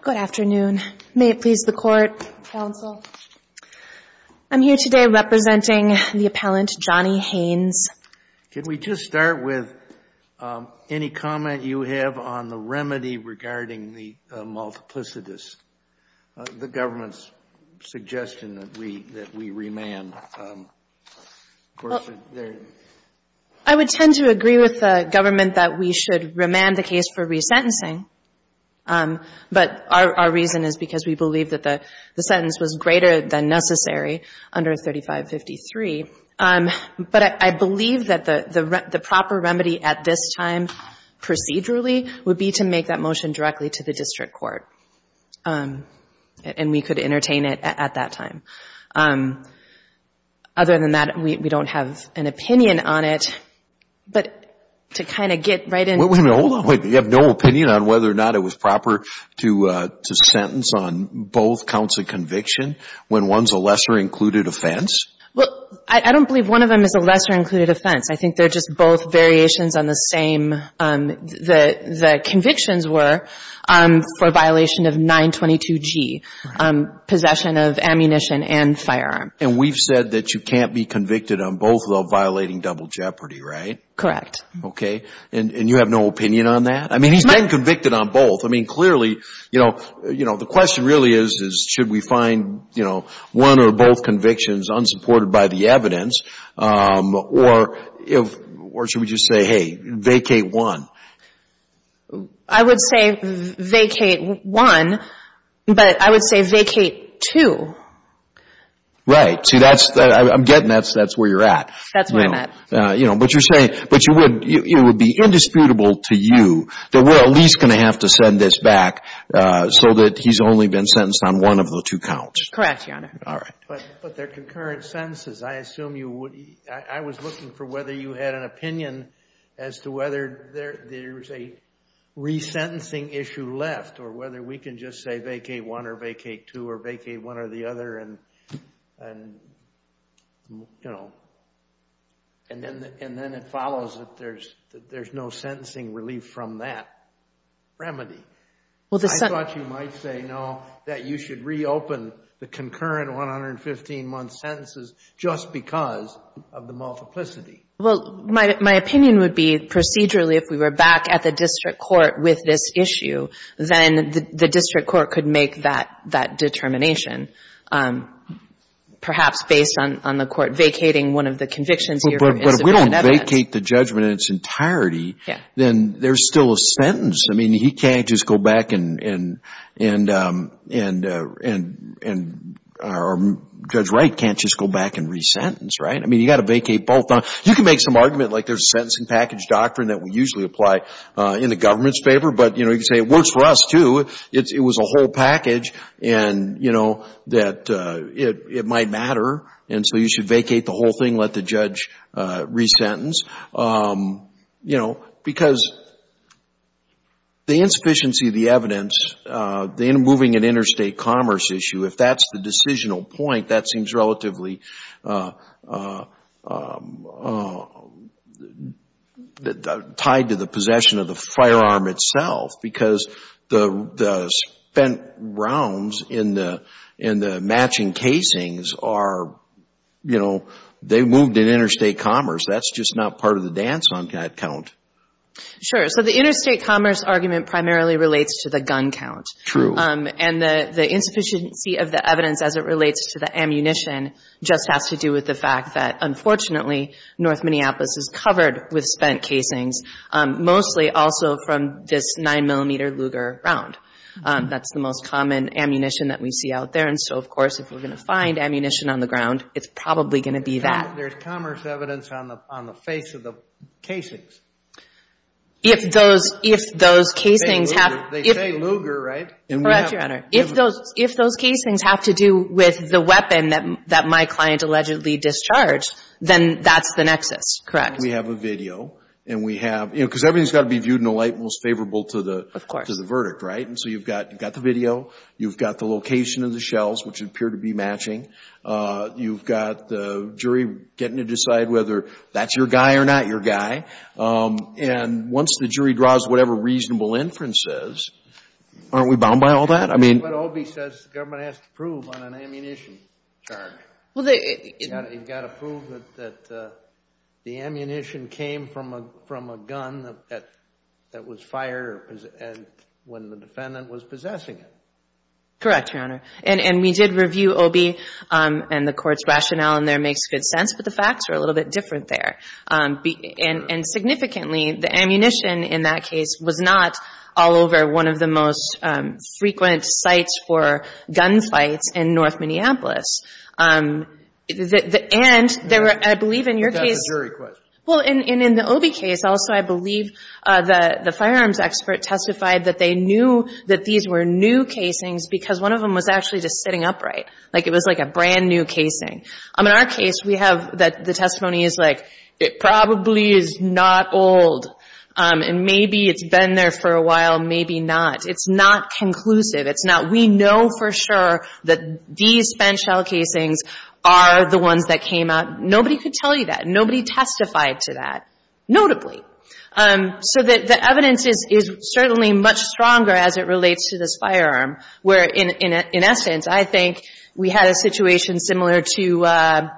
Can we just start with any comment you have on the remedy regarding the multiplicitous, the government's suggestion that we remand, of course, it's there. Well, I would tend to agree with the government that we should remand the case for recent years. But our reason is because we believe that the sentence was greater than necessary under 3553. But I believe that the proper remedy at this time procedurally would be to make that motion directly to the district court. And we could entertain it at that time. Other than that, we don't have an opinion on it. But to kind of get right into it. Hold on, wait, you have no opinion on whether or not it was proper to sentence on both counts of conviction when one's a lesser included offense? Well, I don't believe one of them is a lesser included offense. I think they're just both variations on the same, the convictions were for violation of 922G, possession of ammunition and firearm. And we've said that you can't be convicted on both of them violating double jeopardy, right? Correct. Okay. And you have no opinion on that? I mean, he's been convicted on both. I mean, clearly, you know, the question really is should we find one or both convictions unsupported by the evidence? Or should we just say, hey, vacate one? I would say vacate one. But I would say vacate two. Right. See, I'm getting that's where you're at. That's where I'm at. You know, but you're saying it would be indisputable to you that we're at least going to have to send this back so that he's only been sentenced on one of the two counts. Correct, Your Honor. All right. But they're concurrent sentences. I was looking for whether you had an opinion as to whether there's a resentencing issue left or whether we can just say vacate one or vacate two or vacate one or the other and, you know, and then it follows that there's no sentencing relief from that remedy. I thought you might say, no, that you should reopen the concurrent 115-month sentences just because of the multiplicity. Well, my opinion would be procedurally if we were back at the district court with this issue, then the district court could make that determination, perhaps based on the court vacating one of the convictions here. But if we don't vacate the judgment in its entirety, then there's still a sentence. I mean, he can't just go back and, or Judge Wright can't just go back and resentence, right? I mean, you've got to vacate both. You can make some argument like there's a sentencing package doctrine that we usually apply in the government's favor, but, you know, you can say it works for us, too. It was a whole package and, you know, that it might matter. And so you should vacate the whole thing, let the judge resentence. You know, because the insufficiency of the evidence, the moving in interstate commerce issue, if that's the decisional point, that seems relatively tied to the possession of the firearm itself. Because the spent rounds in the matching casings are, you know, they moved in interstate commerce. That's just not part of the dance on that count. Sure. So the interstate commerce argument primarily relates to the gun count. True. And the insufficiency of the evidence as it relates to the ammunition just has to do with the fact that, unfortunately, North Minneapolis is covered with spent casings, mostly also from this 9-millimeter Luger round. That's the most common ammunition that we see out there. And so, of course, if we're going to find ammunition on the ground, it's probably going to be that. There's commerce evidence on the face of the casings. They say Luger, right? Correct, Your Honor. If those casings have to do with the weapon that my client allegedly discharged, then that's the nexus. Correct. We have a video. And we have, you know, because everything's got to be viewed in a light most favorable to the verdict, right? Of course. And so you've got the video. You've got the location of the shells, which appear to be matching. You've got the jury getting to decide whether that's your guy or not your guy. And once the jury draws whatever reasonable inference says, aren't we bound by all that? OB says the government has to prove on an ammunition charge. You've got to prove that the ammunition came from a gun that was fired when the defendant was possessing it. Correct, Your Honor. And we did review OB, and the court's rationale in there makes good sense, but the facts are a little bit different there. And significantly, the ammunition in that case was not all over one of the most frequent sites for gunfights in north Minneapolis. And I believe in your case — That's a jury question. Well, and in the OB case also, I believe the firearms expert testified that they knew that these were new casings because one of them was actually just sitting upright. Like, it was like a brand-new casing. In our case, we have that the testimony is like, it probably is not old, and maybe it's been there for a while, maybe not. It's not conclusive. It's not — we know for sure that these spent shell casings are the ones that came out. Nobody could tell you that. Nobody testified to that, notably. So the evidence is certainly much stronger as it relates to this firearm, where, in essence, I think we had a situation similar to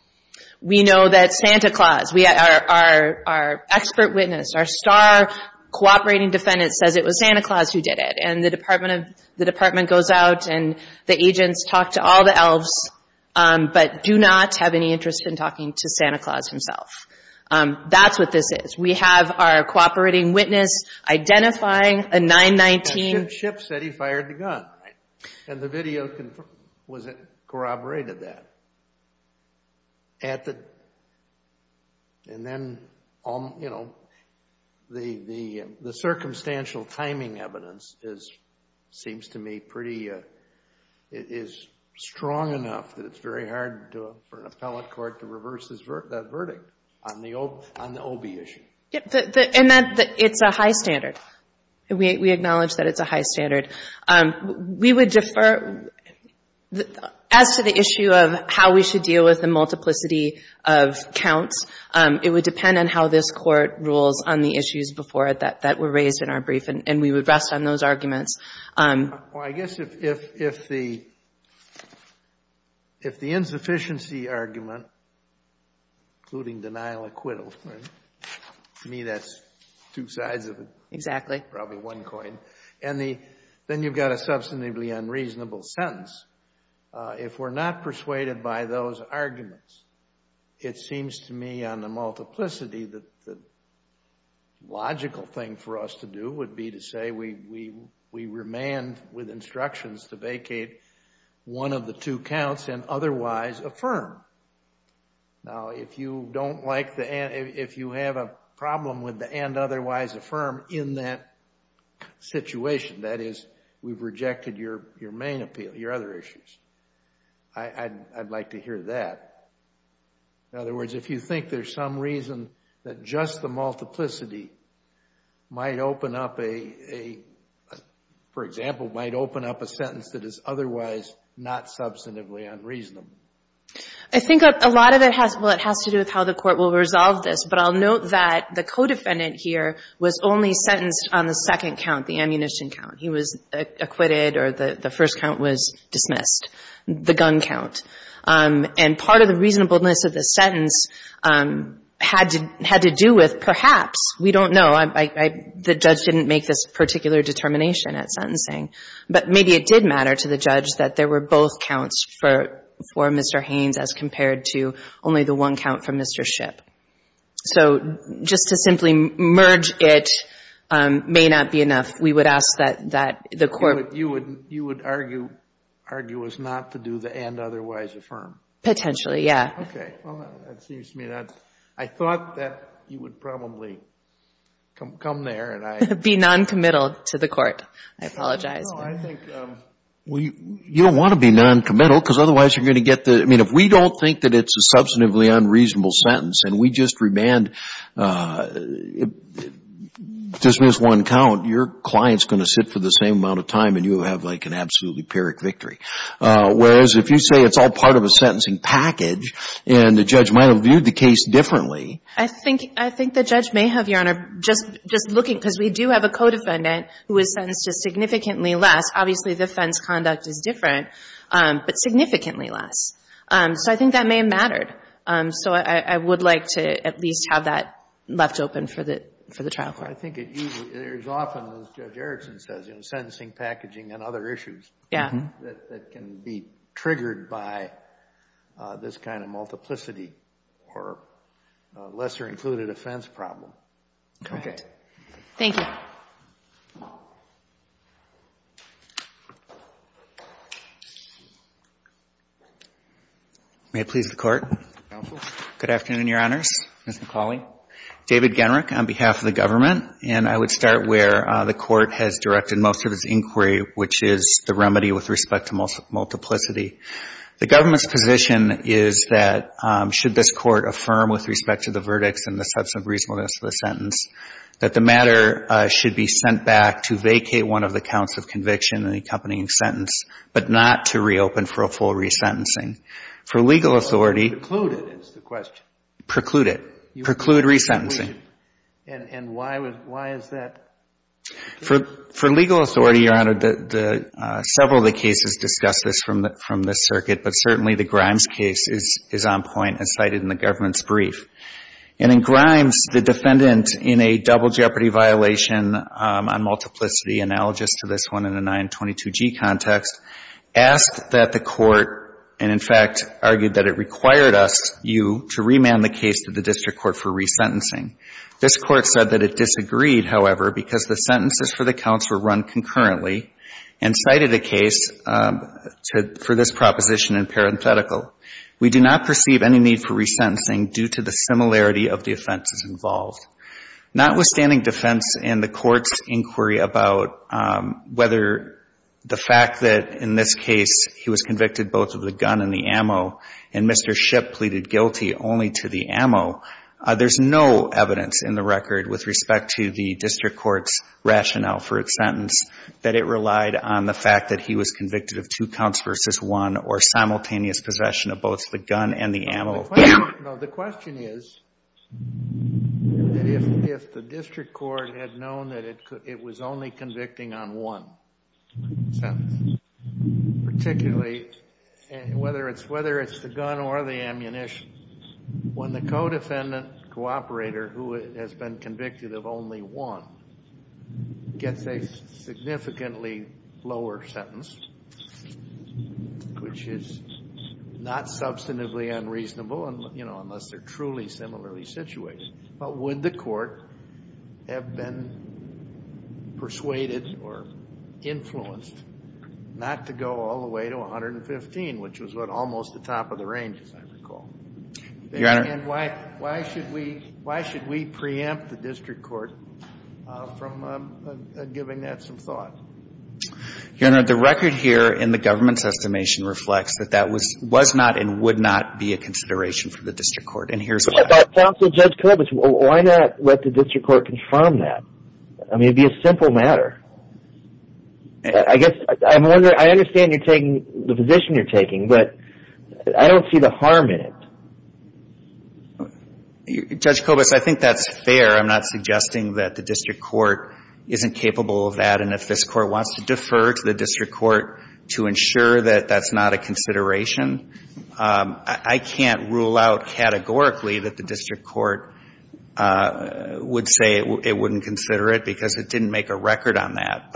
— we know that Santa Claus, our expert witness, our star cooperating defendant says it was Santa Claus who did it. And the department goes out, and the agents talk to all the elves, but do not have any interest in talking to Santa Claus himself. That's what this is. We have our cooperating witness identifying a 919. A ship said he fired the gun. And the video corroborated that. And then, you know, the circumstantial timing evidence seems to me pretty — is strong enough that it's very hard for an appellate court to reverse that verdict on the OB issue. And it's a high standard. We acknowledge that it's a high standard. We would defer — as to the issue of how we should deal with the multiplicity of counts, it would depend on how this Court rules on the issues before it that were raised in our brief, and we would rest on those arguments. Well, I guess if the insufficiency argument, including denial acquittal — to me, that's two sides of it. Exactly. Probably one coin. And then you've got a substantively unreasonable sentence. If we're not persuaded by those arguments, it seems to me on the multiplicity, the logical thing for us to do would be to say we remand with instructions to vacate one of the two counts and otherwise affirm. Now, if you don't like the — if you have a problem with the and otherwise affirm in that situation, that is, we've rejected your main appeal, your other issues, I'd like to hear that. In other words, if you think there's some reason that just the multiplicity might open up a — for example, might open up a sentence that is otherwise not substantively unreasonable. I think a lot of it has — well, it has to do with how the Court will resolve this, but I'll note that the co-defendant here was only sentenced on the second count, the ammunition count. He was acquitted, or the first count was dismissed, the gun count. And part of the reasonableness of the sentence had to do with perhaps. We don't know. The judge didn't make this particular determination at sentencing. But maybe it did matter to the judge that there were both counts for Mr. Haynes as compared to only the one count for Mr. Shipp. So just to simply merge it may not be enough. We would ask that the Court — Potentially, yeah. Okay. Well, that seems to me that — I thought that you would probably come there and I — Be noncommittal to the Court. I apologize. No, I think — Well, you don't want to be noncommittal because otherwise you're going to get the — I mean, if we don't think that it's a substantively unreasonable sentence and we just remand, just miss one count, your client's going to sit for the same amount of time and you have like an absolutely pyrrhic victory. Whereas if you say it's all part of a sentencing package and the judge might have viewed the case differently — I think the judge may have, Your Honor, just looking, because we do have a co-defendant who was sentenced to significantly less. Obviously, the offense conduct is different, but significantly less. So I think that may have mattered. So I would like to at least have that left open for the trial court. I think it usually — there's often, as Judge Erickson says, in sentencing packaging and other issues — Yeah. — that can be triggered by this kind of multiplicity or lesser included offense problem. Okay. Thank you. May it please the Court. Counsel. Good afternoon, Your Honors. Ms. McCauley. David Genrich on behalf of the government. And I would start where the Court has directed most of its inquiry, which is the remedy with respect to multiplicity. The government's position is that should this Court affirm with respect to the verdicts and the substantive reasonableness of the sentence, that the matter should be sent back to vacate one of the counts of conviction and the accompanying sentence, but not to reopen for a full resentencing. For legal authority — Preclude it is the question. Preclude it. Preclude resentencing. And why is that? For legal authority, Your Honor, several of the cases discuss this from the circuit, but certainly the Grimes case is on point and cited in the government's brief. And in Grimes, the defendant, in a double jeopardy violation on multiplicity, analogous to this one in the 922G context, asked that the Court — This Court said that it disagreed, however, because the sentences for the counts were run concurrently and cited a case for this proposition in parenthetical. We do not perceive any need for resentencing due to the similarity of the offenses involved. Notwithstanding defense in the Court's inquiry about whether the fact that in this case he was convicted both of the gun and the ammo and Mr. Shipp pleaded guilty only to the ammo, there's no evidence in the record with respect to the district court's rationale for a sentence that it relied on the fact that he was convicted of two counts versus one or simultaneous possession of both the gun and the ammo. The question is that if the district court had known that it was only convicting on one sentence, particularly whether it's the gun or the ammunition, when the co-defendant, cooperator, who has been convicted of only one, gets a significantly lower sentence, which is not substantively unreasonable, you know, unless they're truly similarly situated, but would the Court have been persuaded or influenced not to go all the way to 115, which was what almost the top of the range, as I recall? Your Honor. And why should we preempt the district court from giving that some thought? Your Honor, the record here in the government's estimation reflects that that was not and would not be a consideration for the district court. And here's why. Counsel, Judge Kovacs, why not let the district court confirm that? I mean, it would be a simple matter. I guess I'm wondering, I understand you're taking the position you're taking, but I don't see the harm in it. Judge Kovacs, I think that's fair. I'm not suggesting that the district court isn't capable of that. And if this Court wants to defer to the district court to ensure that that's not a consideration, I can't rule out categorically that the district court would say it wouldn't consider it because it didn't make a record on that.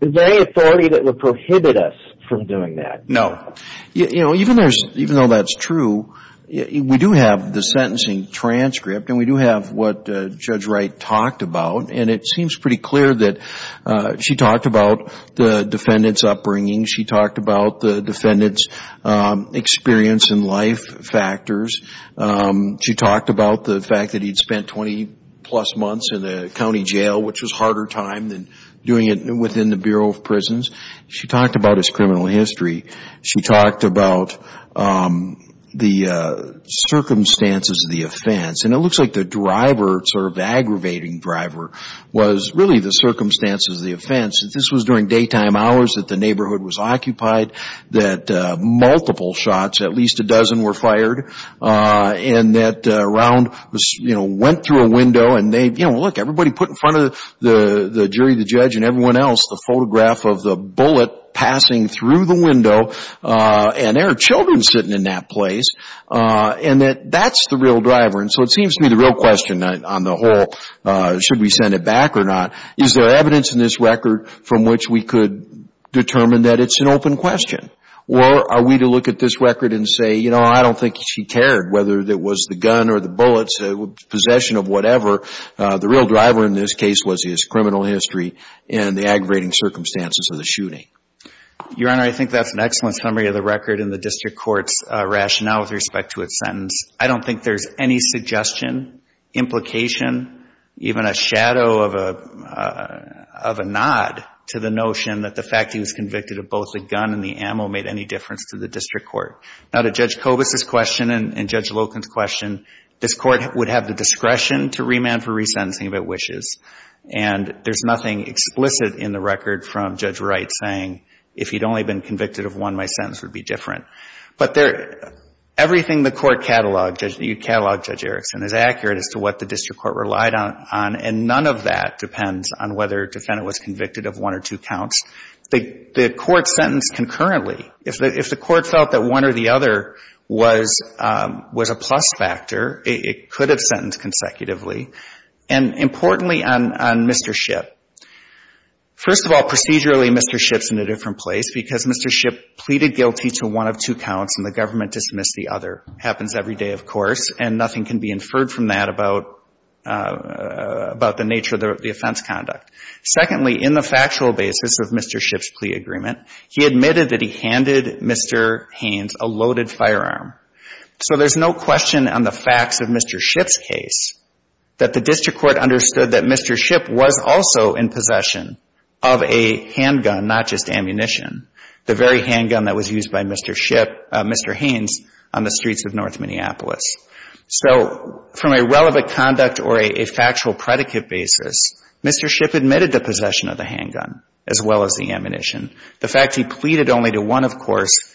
Is there any authority that would prohibit us from doing that? No. You know, even though that's true, we do have the sentencing transcript and we do have what Judge Wright talked about, and it seems pretty clear that she talked about the defendant's upbringing. She talked about the defendant's experience and life factors. She talked about the fact that he'd spent 20-plus months in a county jail, which was a harder time than doing it within the Bureau of Prisons. She talked about his criminal history. She talked about the circumstances of the offense, and it looks like the driver, sort of aggravating driver, was really the circumstances of the offense. This was during daytime hours that the neighborhood was occupied, that multiple shots, at least a dozen, were fired, and that a round, you know, went through a window, and, you know, look, everybody put in front of the jury, the judge, and everyone else, the photograph of the bullet passing through the window, and there are children sitting in that place, and that that's the real driver. And so it seems to me the real question on the whole, should we send it back or not, is there evidence in this record from which we could determine that it's an open question, or are we to look at this record and say, you know, I don't think she cared, whether it was the gun or the bullets, possession of whatever. The real driver in this case was his criminal history and the aggravating circumstances of the shooting. Your Honor, I think that's an excellent summary of the record and the district court's rationale with respect to its sentence. I don't think there's any suggestion, implication, even a shadow of a nod to the notion that the fact he was convicted of both the gun and the ammo made any difference to the district court. Now, to Judge Kobus' question and Judge Loken's question, this court would have the discretion to remand for resentencing if it wishes, and there's nothing explicit in the record from Judge Wright saying, if he'd only been convicted of one, my sentence would be different. But everything the court cataloged, Judge Erickson, is accurate as to what the district court relied on, and none of that depends on whether a defendant was convicted of one or two counts. The court sentenced concurrently. If the court felt that one or the other was a plus factor, it could have sentenced consecutively. And importantly, on Mr. Shipp, first of all, procedurally Mr. Shipp's in a different place because Mr. Shipp pleaded guilty to one of two counts and the government dismissed the other. Happens every day, of course, and nothing can be inferred from that about the nature of the offense conduct. Secondly, in the factual basis of Mr. Shipp's plea agreement, he admitted that he handed Mr. Haynes a loaded firearm. So there's no question on the facts of Mr. Shipp's case that the district court understood that Mr. Shipp was also in possession of a handgun, not just ammunition, the very handgun that was used by Mr. Haynes on the streets of North Minneapolis. So from a relevant conduct or a factual predicate basis, Mr. Shipp admitted the possession of the handgun as well as the ammunition. The fact he pleaded only to one, of course,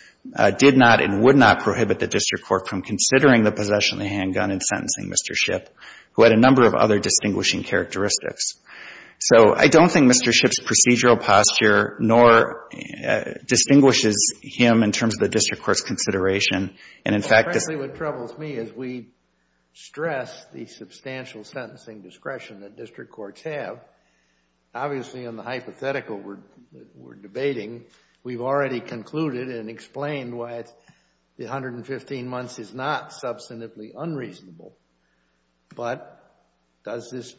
did not and would not prohibit the district court from considering the possession of the handgun and sentencing Mr. Shipp, who had a number of other distinguishing characteristics. So I don't think Mr. Shipp's procedural posture nor distinguishes him in terms of the district court's consideration. And in fact this Frankly, what troubles me is we stress the substantial sentencing discretion that district courts have. Obviously, on the hypothetical we're debating, we've already concluded and explained why the 115 months is not substantively unreasonable. But does this,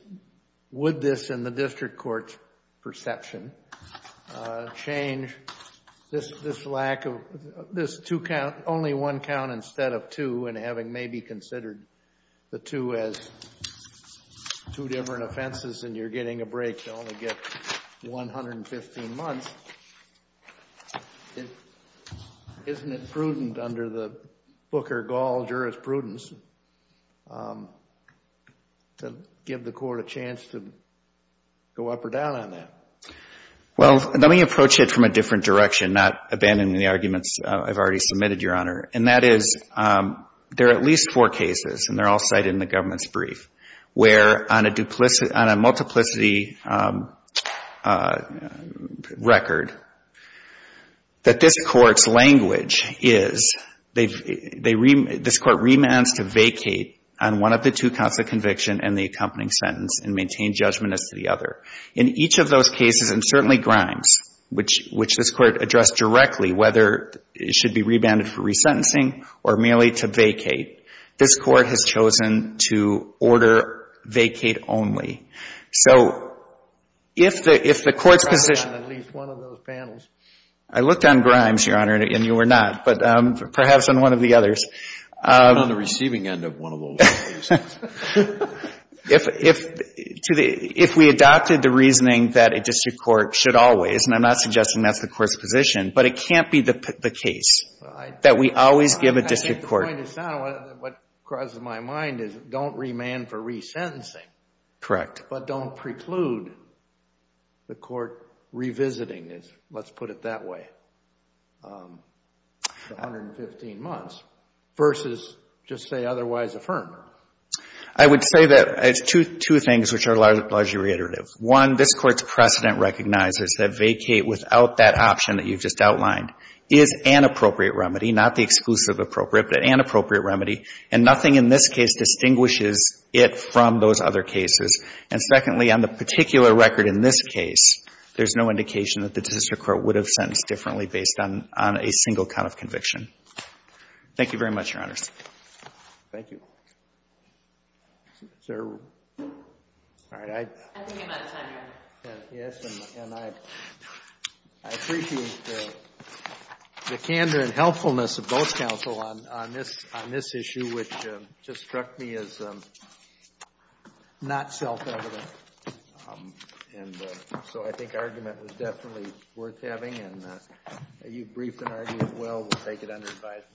would this in the district court's perception, change this lack of, this two count, only one count instead of two and having maybe considered the two as two different offenses and you're getting a break to only get 115 months, isn't it prudent under the Booker-Gaul jurisprudence to give the court a chance to go up or down on that? Well, let me approach it from a different direction, not abandoning the arguments I've already submitted, Your Honor. And that is there are at least four cases, and they're all cited in the government's brief, where on a multiplicity record, that this court's language is, this court remands to vacate on one of the two counts of conviction and the accompanying sentence and maintain judgment as to the other. In each of those cases, and certainly Grimes, which this court addressed directly, whether it should be remanded for resentencing or merely to vacate, this court has chosen to order vacate only. So if the court's position... I'm not on at least one of those panels. I looked on Grimes, Your Honor, and you were not, but perhaps on one of the others. I'm not on the receiving end of one of those cases. If we adopted the reasoning that a district court should always, and I'm not suggesting that's the court's position, but it can't be the case that we always give a district court... My point is sound. What crosses my mind is don't remand for resentencing... Correct. ...but don't preclude the court revisiting, let's put it that way, the 115 months, versus just say otherwise affirmed. I would say that it's two things which are largely reiterative. One, this court's precedent recognizes that vacate without that option that you've just outlined is an appropriate remedy, not the exclusive appropriate, but an appropriate remedy, and nothing in this case distinguishes it from those other cases. And secondly, on the particular record in this case, there's no indication that the district court would have sentenced differently based on a single count of conviction. Thank you very much, Your Honors. Thank you. Is there... All right, I... I think I'm out of time, Your Honor. Yes, and I appreciate the candor and helpfulness of both counsel on this issue, which just struck me as not self-evident. And so I think argument was definitely worth having, and you've briefed an argument well, we'll take it under advisement.